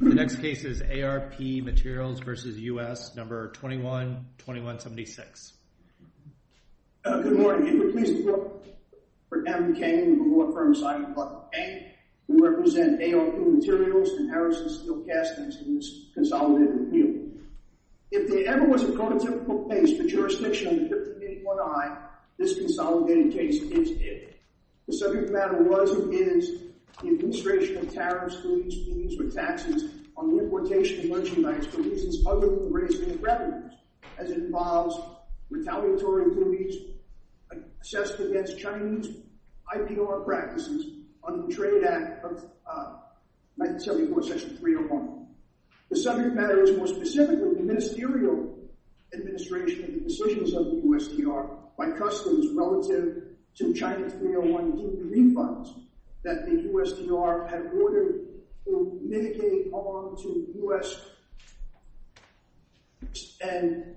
The next case is ARP Materials v. U.S. No. 21-2176. Good morning. I'm pleased to report for Kevin McCain, the Law Firm Associate of Public Pay, we represent ARP Materials and Harrison Steel Castings in this consolidated appeal. If there ever was a prototypical case for jurisdiction under 1581i, this consolidated case is it. The subject matter was and is the administration of tariffs, fees, or taxes on the importation of merchandise for reasons other than raising revenues, as it involves retaliatory impugnment assessed against Chinese IPR practices under the Trade Act of 1974, Section 301. The subject matter is more specifically the ministerial administration of the decisions of the U.S. DR by customs relative to China's 301D refunds that the U.S. DR had ordered to mitigate on to U.S.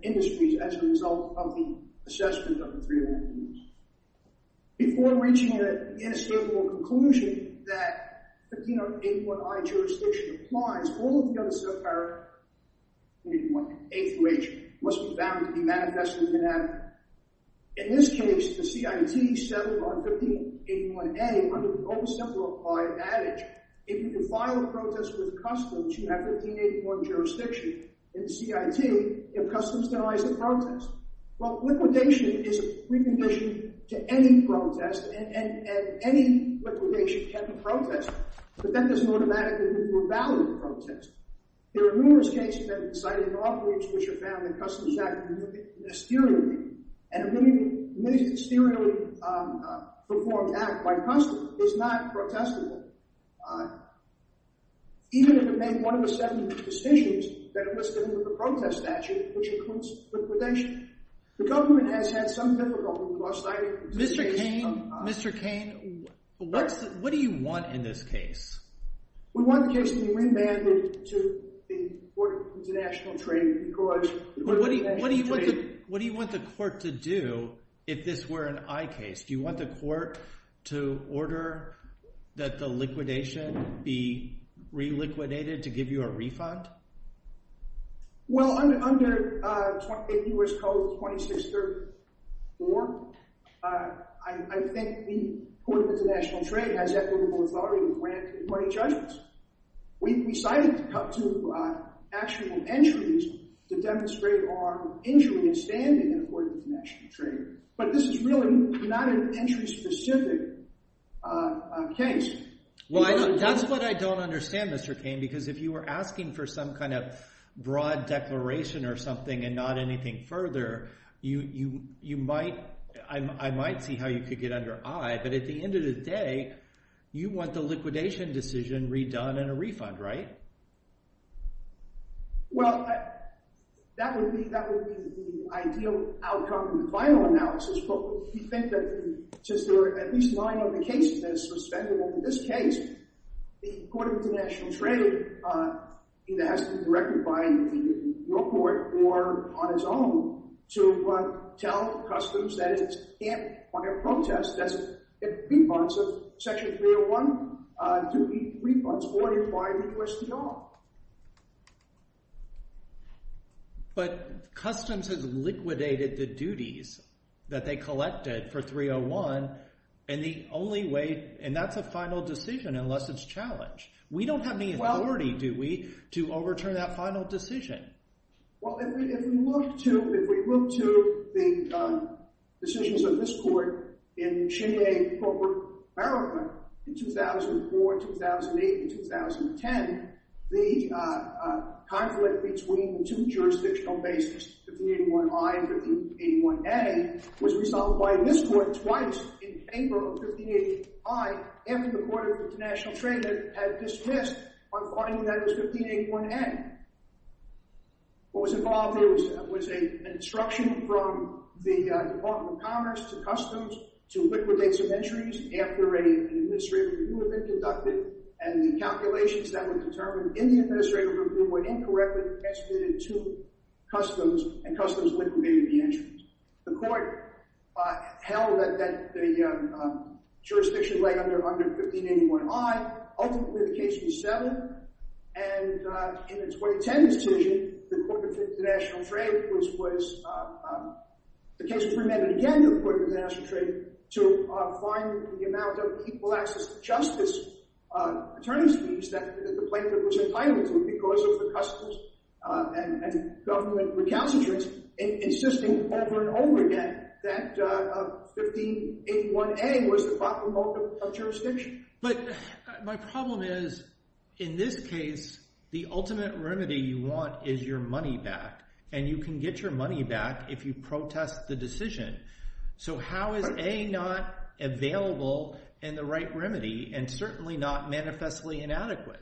industries as a result of the assessment of the 301Ds. Before reaching an inestimable conclusion that 1581i jurisdiction applies, all of the subparts, A through H, must be bound to be manifestly inadequate. In this case, the CIT settled on 1581a under the most simple applied adage, if you can file a protest with customs, you have 1581 jurisdiction. In the CIT, if customs denies the protest. Well, liquidation is a precondition to any protest, and any liquidation can be protested. But that doesn't automatically mean we're valid in protest. There are numerous cases that have been cited in law briefs which have found the Customs Act to be a ministerial act, and a ministerially performed act by customs is not protestable. Even if it made one of the seven decisions that are listed in the protest statute, which includes liquidation, the government has had some difficulty in cross-citing these cases. Mr. Kane, what do you want in this case? We want the case to be remanded to the Court of International Trade. What do you want the court to do if this were an I case? Do you want the court to order that the liquidation be reliquidated to give you a refund? Well, under U.S. Code 2634, I think the Court of International Trade has equitable authority to grant 20 judgments. We decided to cut to actual entries to demonstrate our injury in standing in the Court of International Trade. But this is really not an entry-specific case. Well, that's what I don't understand, Mr. Kane. If you were asking for some kind of broad declaration or something and not anything further, I might see how you could get under I. But at the end of the day, you want the liquidation decision redone and a refund, right? Well, that would be the ideal outcome from the final analysis. But we think that since there are at least nine other cases that are suspendable in this case, the Court of International Trade either has to be directed by the real court or on its own to tell Customs that it can't require a protest. That's a refund of Section 301 to be refunded or to require a request at all. But Customs has liquidated the duties that they collected for 301, and the only way—and that's a final decision unless it's challenged. We don't have any authority, do we, to overturn that final decision? Well, if we look to the decisions of this Court in Cheney v. Corporate America in 2004, 2008, and 2010, the conflict between the two jurisdictional bases, 1581i and 1581a, was after the Court of International Trade had dismissed our finding that it was 1581a. What was involved was an instruction from the Department of Commerce to Customs to liquidate some entries after an administrative review had been conducted, and the calculations that were determined in the administrative review were incorrectly attributed to Customs, and Customs liquidated the entries. The Court held that the jurisdiction lay under 1581i. Ultimately, the case was settled, and in the 2010 decision, the Court of International Trade was—the case was remanded again to the Court of International Trade to find the amount of equal access to justice attorney's fees that the plaintiff was entitled to because of the Customs and government recalcitrance, insisting over and over again that 1581a was the bottom of the jurisdiction. But my problem is, in this case, the ultimate remedy you want is your money back, and you can get your money back if you protest the decision. So how is a not available in the right remedy, and certainly not manifestly inadequate?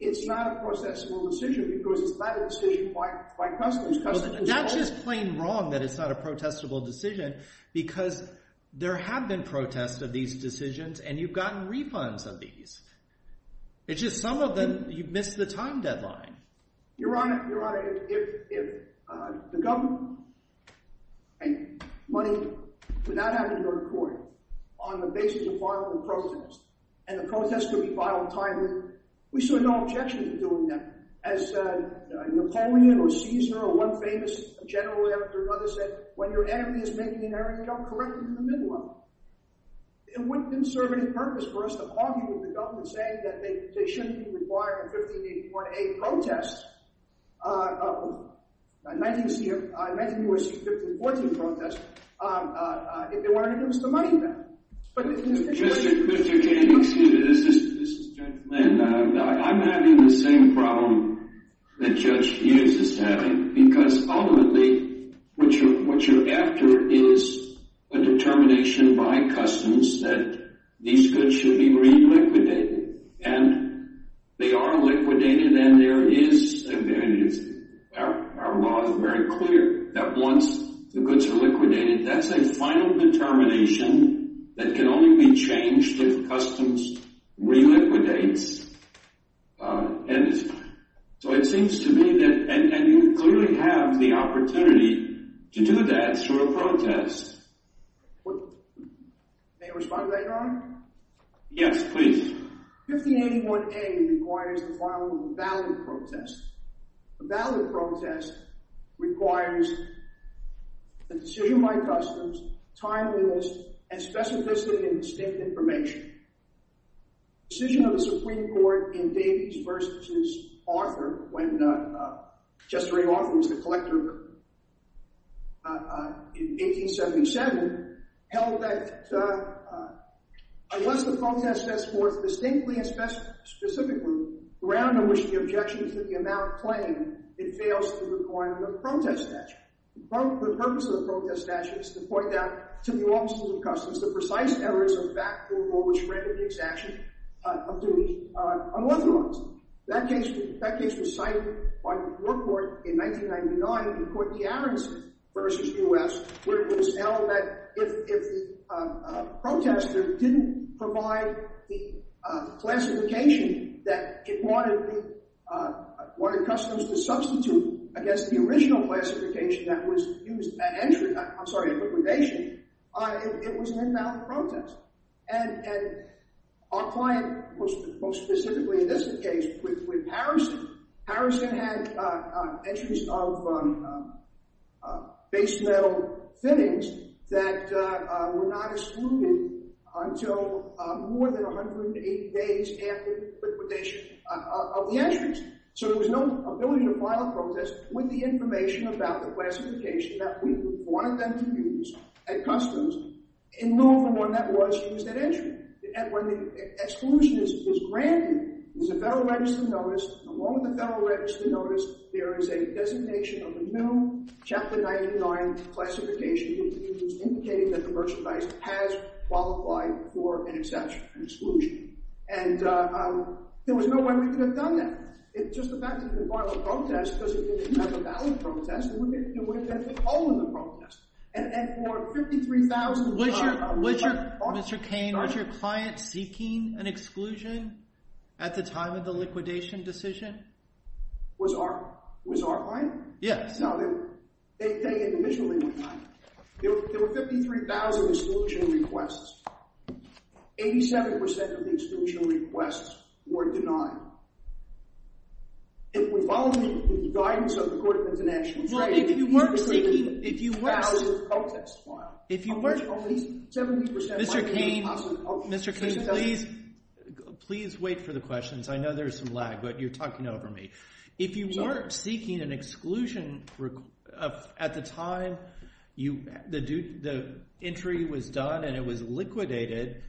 It's not a protestable decision because it's not a decision by Customs. Customs— Well, that's just plain wrong that it's not a protestable decision because there have been protests of these decisions, and you've gotten refunds of these. It's just some of them, you've missed the time deadline. Your Honor, if the government—money would not have to go to court on the basis of a time—we saw no objection to doing that. As Napoleon or Caesar or one famous general after another said, when your enemy is making an error, you don't correct him in the middle of it. It wouldn't serve any purpose for us to argue with the government saying that they shouldn't be required to 1581a protest—19USC 1514 protest—if they wanted to give us the money back. Mr. Kennedy, excuse me, this is Judge Lynn. I'm having the same problem that Judge Hughes is having because ultimately what you're after is a determination by Customs that these goods should be reliquidated, and they are liquidated, and there is—our law is very clear that once the goods are liquidated, that's a final determination that can only be changed if Customs reliquidates, and so it seems to me that—and you clearly have the opportunity to do that through a protest. May I respond to that, Your Honor? Yes, please. 1581a requires the following valid protest. The valid protest requires a decision by Customs, timeliness, and specificity in distinct information. The decision of the Supreme Court in Davies v. Arthur, when Justice Ray Arthur was the Supreme Court, was distinctly and specifically grounded in which the objection is that the amount claimed, it fails to require the protest statute. The purpose of the protest statute is to point out to the offices of Customs the precise errors of fact or which render the exaction of Davies unauthorized. That case was cited by the Court in 1999 in Courtney-Averns v. U.S. where it was held that if the protester didn't provide the classification that it wanted Customs to substitute against the original classification that was used at entry—I'm sorry, at liquidation—it was an invalid protest. And our client, most specifically in this case with Harrison, Harrison had entries of base metal fittings that were not excluded until more than 180 days after liquidation of the entries. So there was no ability to file a protest with the information about the classification that we wanted them to use at Customs in law from when that was used at entry. And when the exclusion is granted, there's a Federal Register notice. And along with the Federal Register notice, there is a designation of a new Chapter 99 classification to be used indicating that the merchandise has qualified for an exception, an exclusion. And there was no way we could have done that. It just affected the final protest because it didn't have a valid protest. It would have been a hole in the protest. And for $53,000— Mr. Kane, was your client seeking an exclusion at the time of the liquidation decision? Was our client? Yes. Now, they individually were denied it. There were 53,000 exclusion requests. 87% of the exclusion requests were denied. If we follow the guidance of the Court of International Trade— Well, if you weren't seeking— —53,000 protest files— Mr. Kane, please wait for the questions. I know there's some lag, but you're talking over me. If you weren't seeking an exclusion at the time the entry was done and it was liquidated,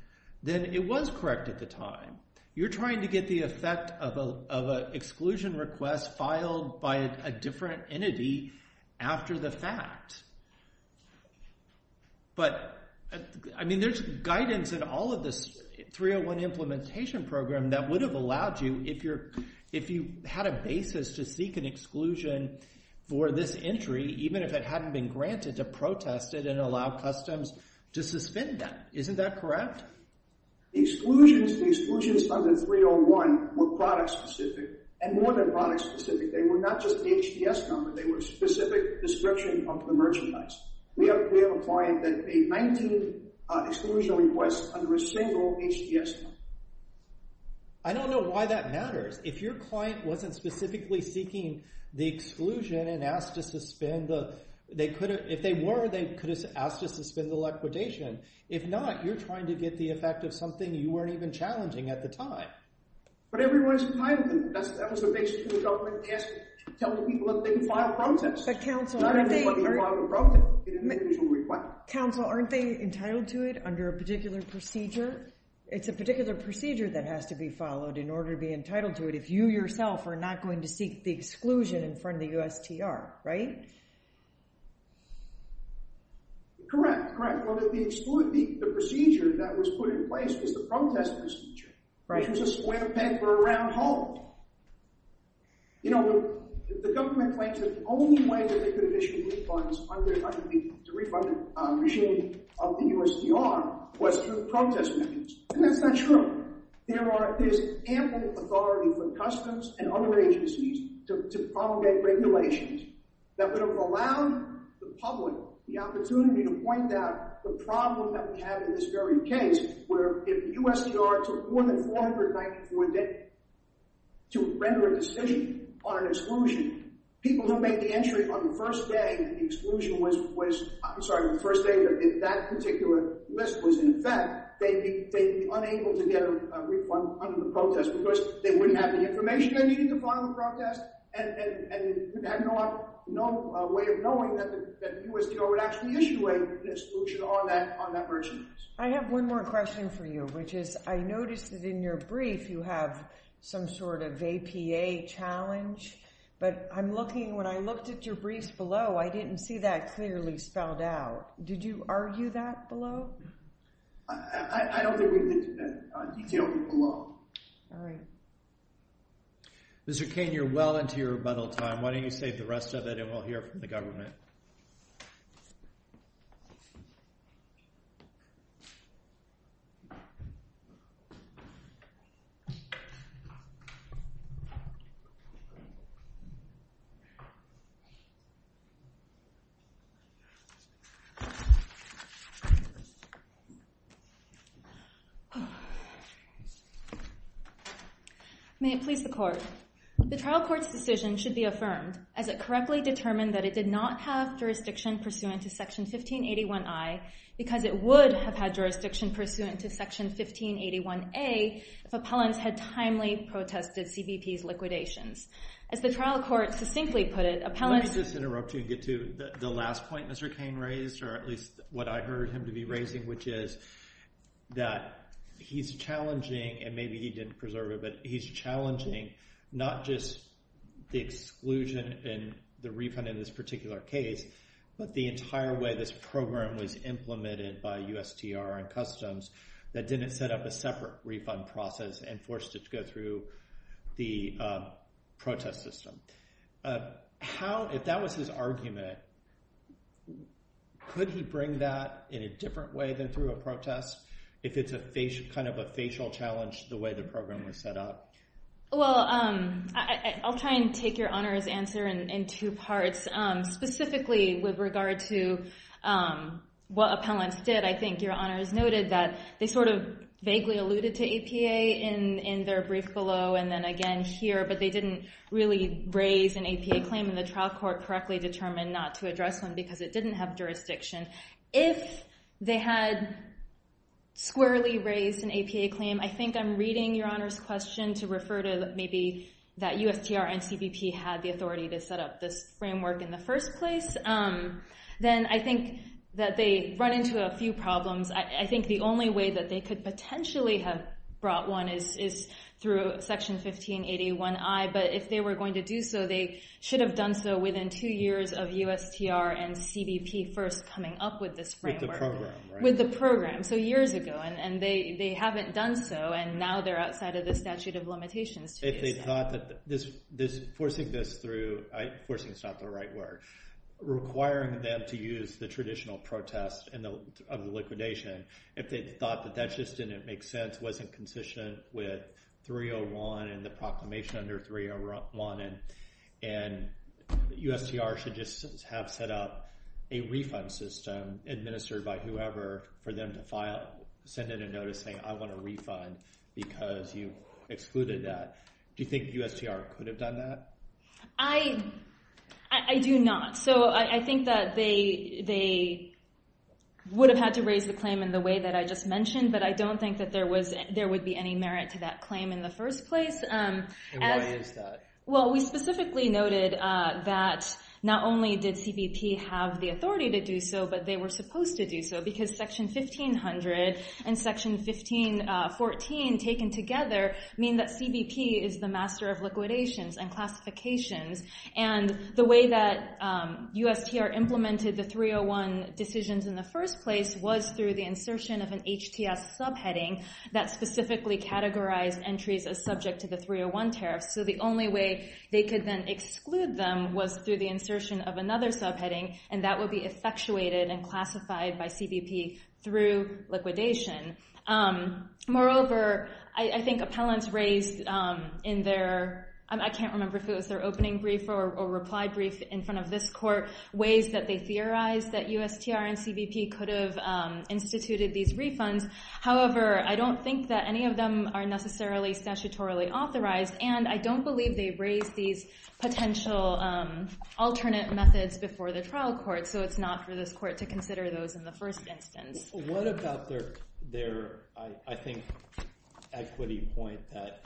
then it was correct at the time. You're trying to get the effect of an exclusion request filed by a different entity after the fact. But, I mean, there's guidance in all of this 301 implementation program that would have allowed you, if you had a basis to seek an exclusion for this entry, even if it hadn't been granted, to protest it and allow customs to suspend them. Isn't that correct? The exclusions under 301 were product-specific, and more than product-specific. They were not just the HDS number. They were a specific description of the merchandise. We have a client that paid 19 exclusion requests under a single HDS number. I don't know why that matters. If your client wasn't specifically seeking the exclusion and asked to suspend the—if they were, they could have asked to suspend the liquidation. If not, you're trying to get the effect of something you weren't even challenging at the time. But everyone's entitled to it. That was the basis for the government. They asked to tell the people that they could file a protest. But, counsel, aren't they— Not everyone can file a protest. You didn't make an exclusion request. Counsel, aren't they entitled to it under a particular procedure? It's a particular procedure that has to be followed in order to be entitled to it if you yourself are not going to seek the exclusion in front of the USTR, right? Correct, correct. Well, the procedure that was put in place was the protest procedure, which was a square paper around home. You know, the government claims that the only way that they could have issued refunds under the—to refund the regime of the USTR was through protest methods. And that's not true. There are—there's ample authority for customs and other agencies to promulgate regulations that would have allowed the public the opportunity to point out the problem that we have in this very case, where if the USTR took more than 494 days to render a decision on an exclusion, people who made the entry on the first day that the exclusion was—I'm sorry, the first day that that particular list was in effect, they'd be unable to get a refund under the protest because they wouldn't have the information they needed to file a protest and they would have no way of knowing that the USTR would actually issue an exclusion on that—on that version. I have one more question for you, which is I noticed that in your brief you have some sort of APA challenge. But I'm looking—when I looked at your briefs below, I didn't see that clearly spelled out. Did you argue that below? I don't think we did that detail below. All right. Mr. Kane, you're well into your rebuttal time. Why don't you save the rest of it and we'll hear from the government. Thank you. May it please the Court. The trial court's decision should be affirmed as it correctly determined that it did not have jurisdiction pursuant to Section 1581I because it would have had jurisdiction pursuant to Section 1581A if appellants had timely protested CBP's liquidations. As the trial court succinctly put it, appellants— Let me just interrupt you and get to the last point Mr. Kane raised, or at least what I heard him to be raising, which is that he's challenging—and maybe he didn't preserve it—he's challenging not just the exclusion and the refund in this particular case, but the entire way this program was implemented by USTR and Customs that didn't set up a separate refund process and forced it to go through the protest system. If that was his argument, could he bring that in a different way than through a protest if it's kind of a facial challenge to the way the program was set up? Well, I'll try and take your Honor's answer in two parts. Specifically with regard to what appellants did, I think your Honor's noted that they sort of vaguely alluded to APA in their brief below and then again here, but they didn't really raise an APA claim in the trial court correctly determined not to address one because it didn't have jurisdiction. If they had squarely raised an APA claim—I think I'm reading your Honor's question to refer to maybe that USTR and CBP had the authority to set up this framework in the first place—then I think that they run into a few problems. I think the only way that they could potentially have brought one is through Section 1581i, but if they were going to do so, they should have done so within two years of USTR and CBP coming up with this framework. With the program, right? With the program, so years ago. And they haven't done so, and now they're outside of the statute of limitations. If they thought that forcing this through—forcing is not the right word—requiring them to use the traditional protest of the liquidation, if they thought that that just didn't make sense, wasn't consistent with 301 and the proclamation under 301, and USTR should just have set up a refund system administered by whoever for them to send in a notice saying, I want a refund because you excluded that. Do you think USTR could have done that? I do not. So I think that they would have had to raise the claim in the way that I just mentioned, but I don't think that there would be any merit to that claim in the first place. And why is that? Well, we specifically noted that not only did CBP have the authority to do so, but they were supposed to do so, because section 1500 and section 1514 taken together mean that CBP is the master of liquidations and classifications. And the way that USTR implemented the 301 decisions in the first place was through the insertion of an HTS subheading that specifically categorized entries as subject to the 301 tariffs. So the only way they could then exclude them was through the insertion of another subheading, and that would be effectuated and classified by CBP through liquidation. Moreover, I think appellants raised in their, I can't remember if it was their opening brief or reply brief in front of this court, ways that they theorized that USTR and CBP could have instituted these refunds. However, I don't think that any of them are necessarily statutorily authorized, and I don't believe they raised these potential alternate methods before the trial court. So it's not for this court to consider those in the first instance. What about their, I think, equity point that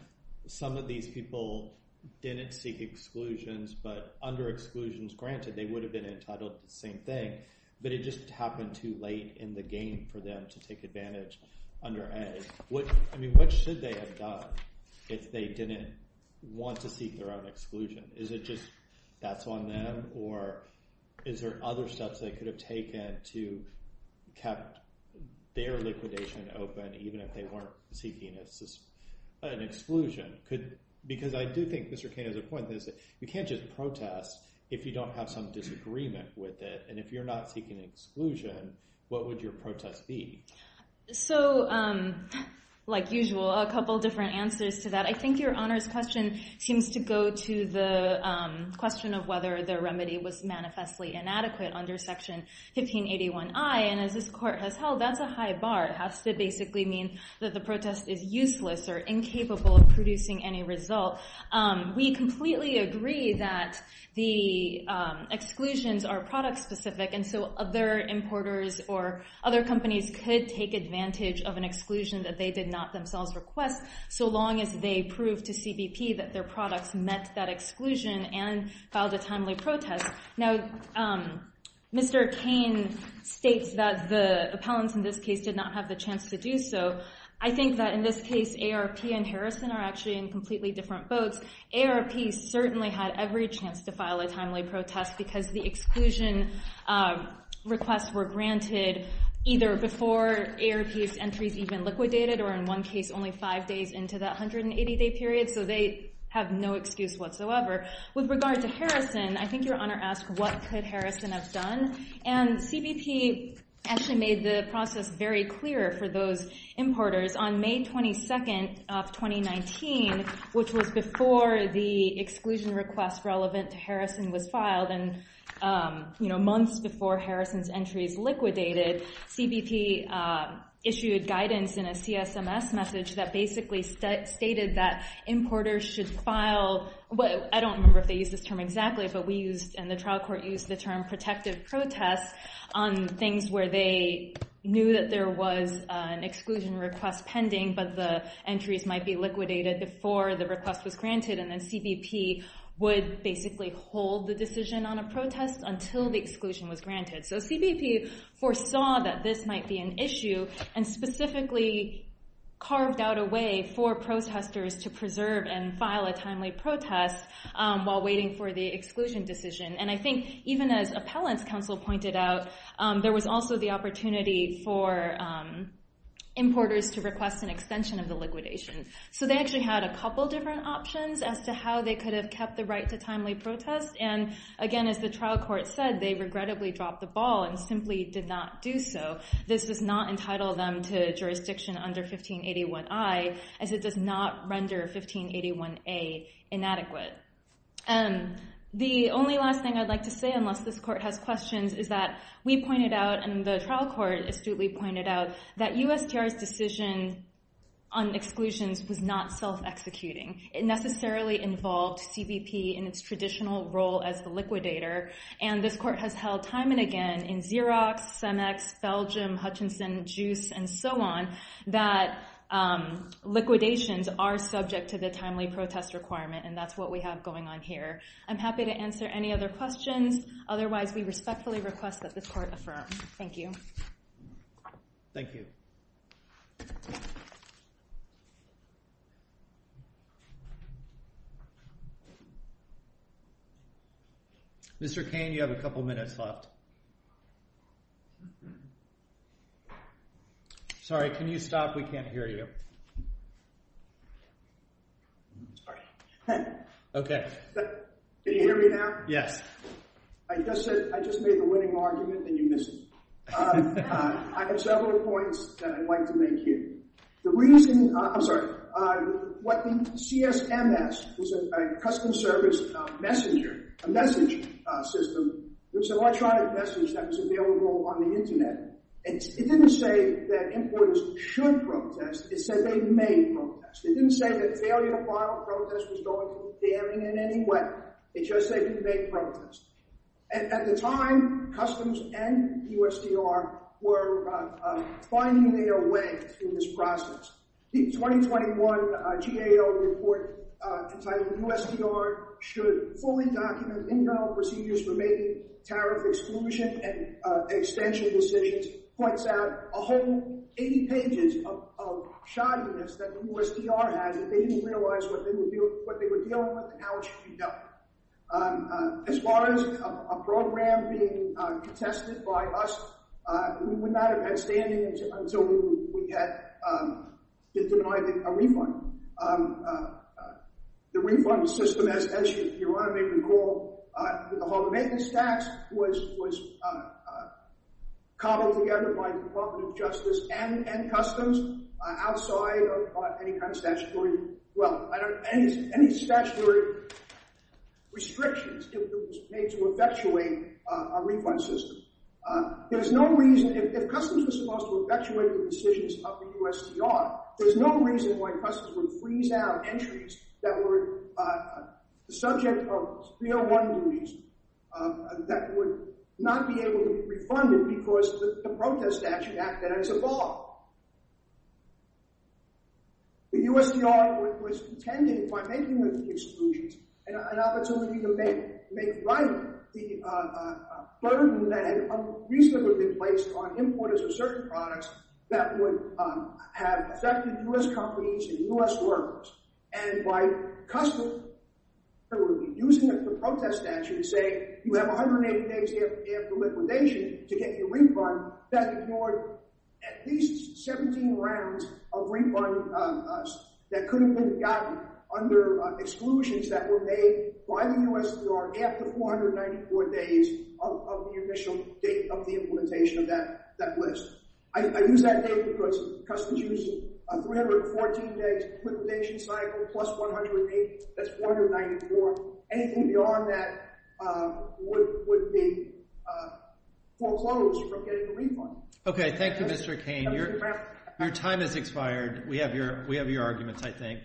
some of these people didn't seek exclusions, but under exclusions, granted, they would have been entitled to the same thing, but it just happened too late in the game for them to take advantage under ed. I mean, what should they have done if they didn't want to seek their own exclusion? Is it just that's on them? Or is there other steps they could have taken to kept their liquidation open, even if they weren't seeking an exclusion? Because I do think Mr. Kane has a point that is that you can't just protest if you don't have some disagreement with it. And if you're not seeking exclusion, what would your protest be? So like usual, a couple different answers to that. I think your honors question seems to go to the question of whether the remedy was manifestly inadequate under Section 1581i. And as this court has held, that's a high bar. It has to basically mean that the protest is useless or incapable of producing any result. We completely agree that the exclusions are product specific, and so other importers or distributors did take advantage of an exclusion that they did not themselves request, so long as they proved to CBP that their products met that exclusion and filed a timely protest. Now, Mr. Kane states that the appellants in this case did not have the chance to do so. I think that in this case, AARP and Harrison are actually in completely different boats. AARP certainly had every chance to file a timely protest because the exclusion requests were granted either before AARP's entries even liquidated, or in one case, only five days into that 180-day period. So they have no excuse whatsoever. With regard to Harrison, I think your honor asked, what could Harrison have done? And CBP actually made the process very clear for those importers on May 22nd of 2019, which was before the exclusion request relevant to Harrison was filed and months before Harrison's entries liquidated, CBP issued guidance in a CSMS message that basically stated that importers should file, I don't remember if they used this term exactly, but we used and the trial court used the term protective protest on things where they knew that there was an exclusion request pending, but the entries might be liquidated before the request was granted, and then CBP would basically hold the decision on a protest until the exclusion was granted. So CBP foresaw that this might be an issue and specifically carved out a way for protesters to preserve and file a timely protest while waiting for the exclusion decision. And I think even as appellants counsel pointed out, there was also the opportunity for importers to request an extension of the liquidation. So they actually had a couple different options as to how they could have kept the right to did not do so. This does not entitle them to jurisdiction under 1581I as it does not render 1581A inadequate. The only last thing I'd like to say, unless this court has questions, is that we pointed out and the trial court astutely pointed out that USTR's decision on exclusions was not self-executing. It necessarily involved CBP in its traditional role as the liquidator, and this court has held time and again in Xerox, Cemex, Felgium, Hutchinson, Juice, and so on, that liquidations are subject to the timely protest requirement, and that's what we have going on here. I'm happy to answer any other questions. Otherwise, we respectfully request that the court affirm. Thank you. Thank you. Mr. Kane, you have a couple minutes left. Sorry, can you stop? We can't hear you. Sorry. Okay. Can you hear me now? Yes. I just made the winning argument, and you missed it. I have several points that I'd like to make here. The reason, I'm sorry, what the CSMS was a custom service messenger, a message system. It was an electronic message that was available on the internet, and it didn't say that importers should protest. It said they may protest. It didn't say that failure to file a protest was going to be damning in any way. It just said you may protest. At the time, customs and USDR were finding their way through this process. The 2021 GAO report entitled, USDR should fully document internal procedures for making tariff exclusion and extension decisions, points out a whole 80 pages of shoddiness that USDR had that they didn't realize what they were dealing with, and how it should be dealt with. As far as a program being contested by us, we would not have had standing until we had been denied a refund. The refund system, as your Honor may recall, with the Hall of Maintenance tax, was cobbled together by the Department of Justice and Customs, outside of any kind of statutory well, I don't know, any statutory restrictions made to effectuate our refund system. There's no reason, if Customs was supposed to effectuate the decisions of the USDR, there's no reason why Customs would freeze out entries that were subject of spear-wounding reason, that would not be able to be refunded because the protest actually acted as a bar. The USDR was intending, by making the exclusions, an opportunity to make right the burden that had recently been placed on importers of certain products that would have affected US companies and US workers, and by Customs using the protest statute to say, you have 180 days after liquidation to get your refund, that ignored at least 17 rounds of refund that could have been gotten under exclusions that were made by the USDR after 494 days of the initial date of the implementation of that list. I use that date because Customs used 314 days of liquidation plus 180, that's 494. Anything beyond that would be foreclosed from getting a refund. Okay, thank you Mr. Kane. Your time has expired. We have your arguments, I think.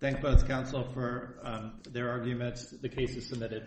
Thank both counsel for their arguments. The case is submitted.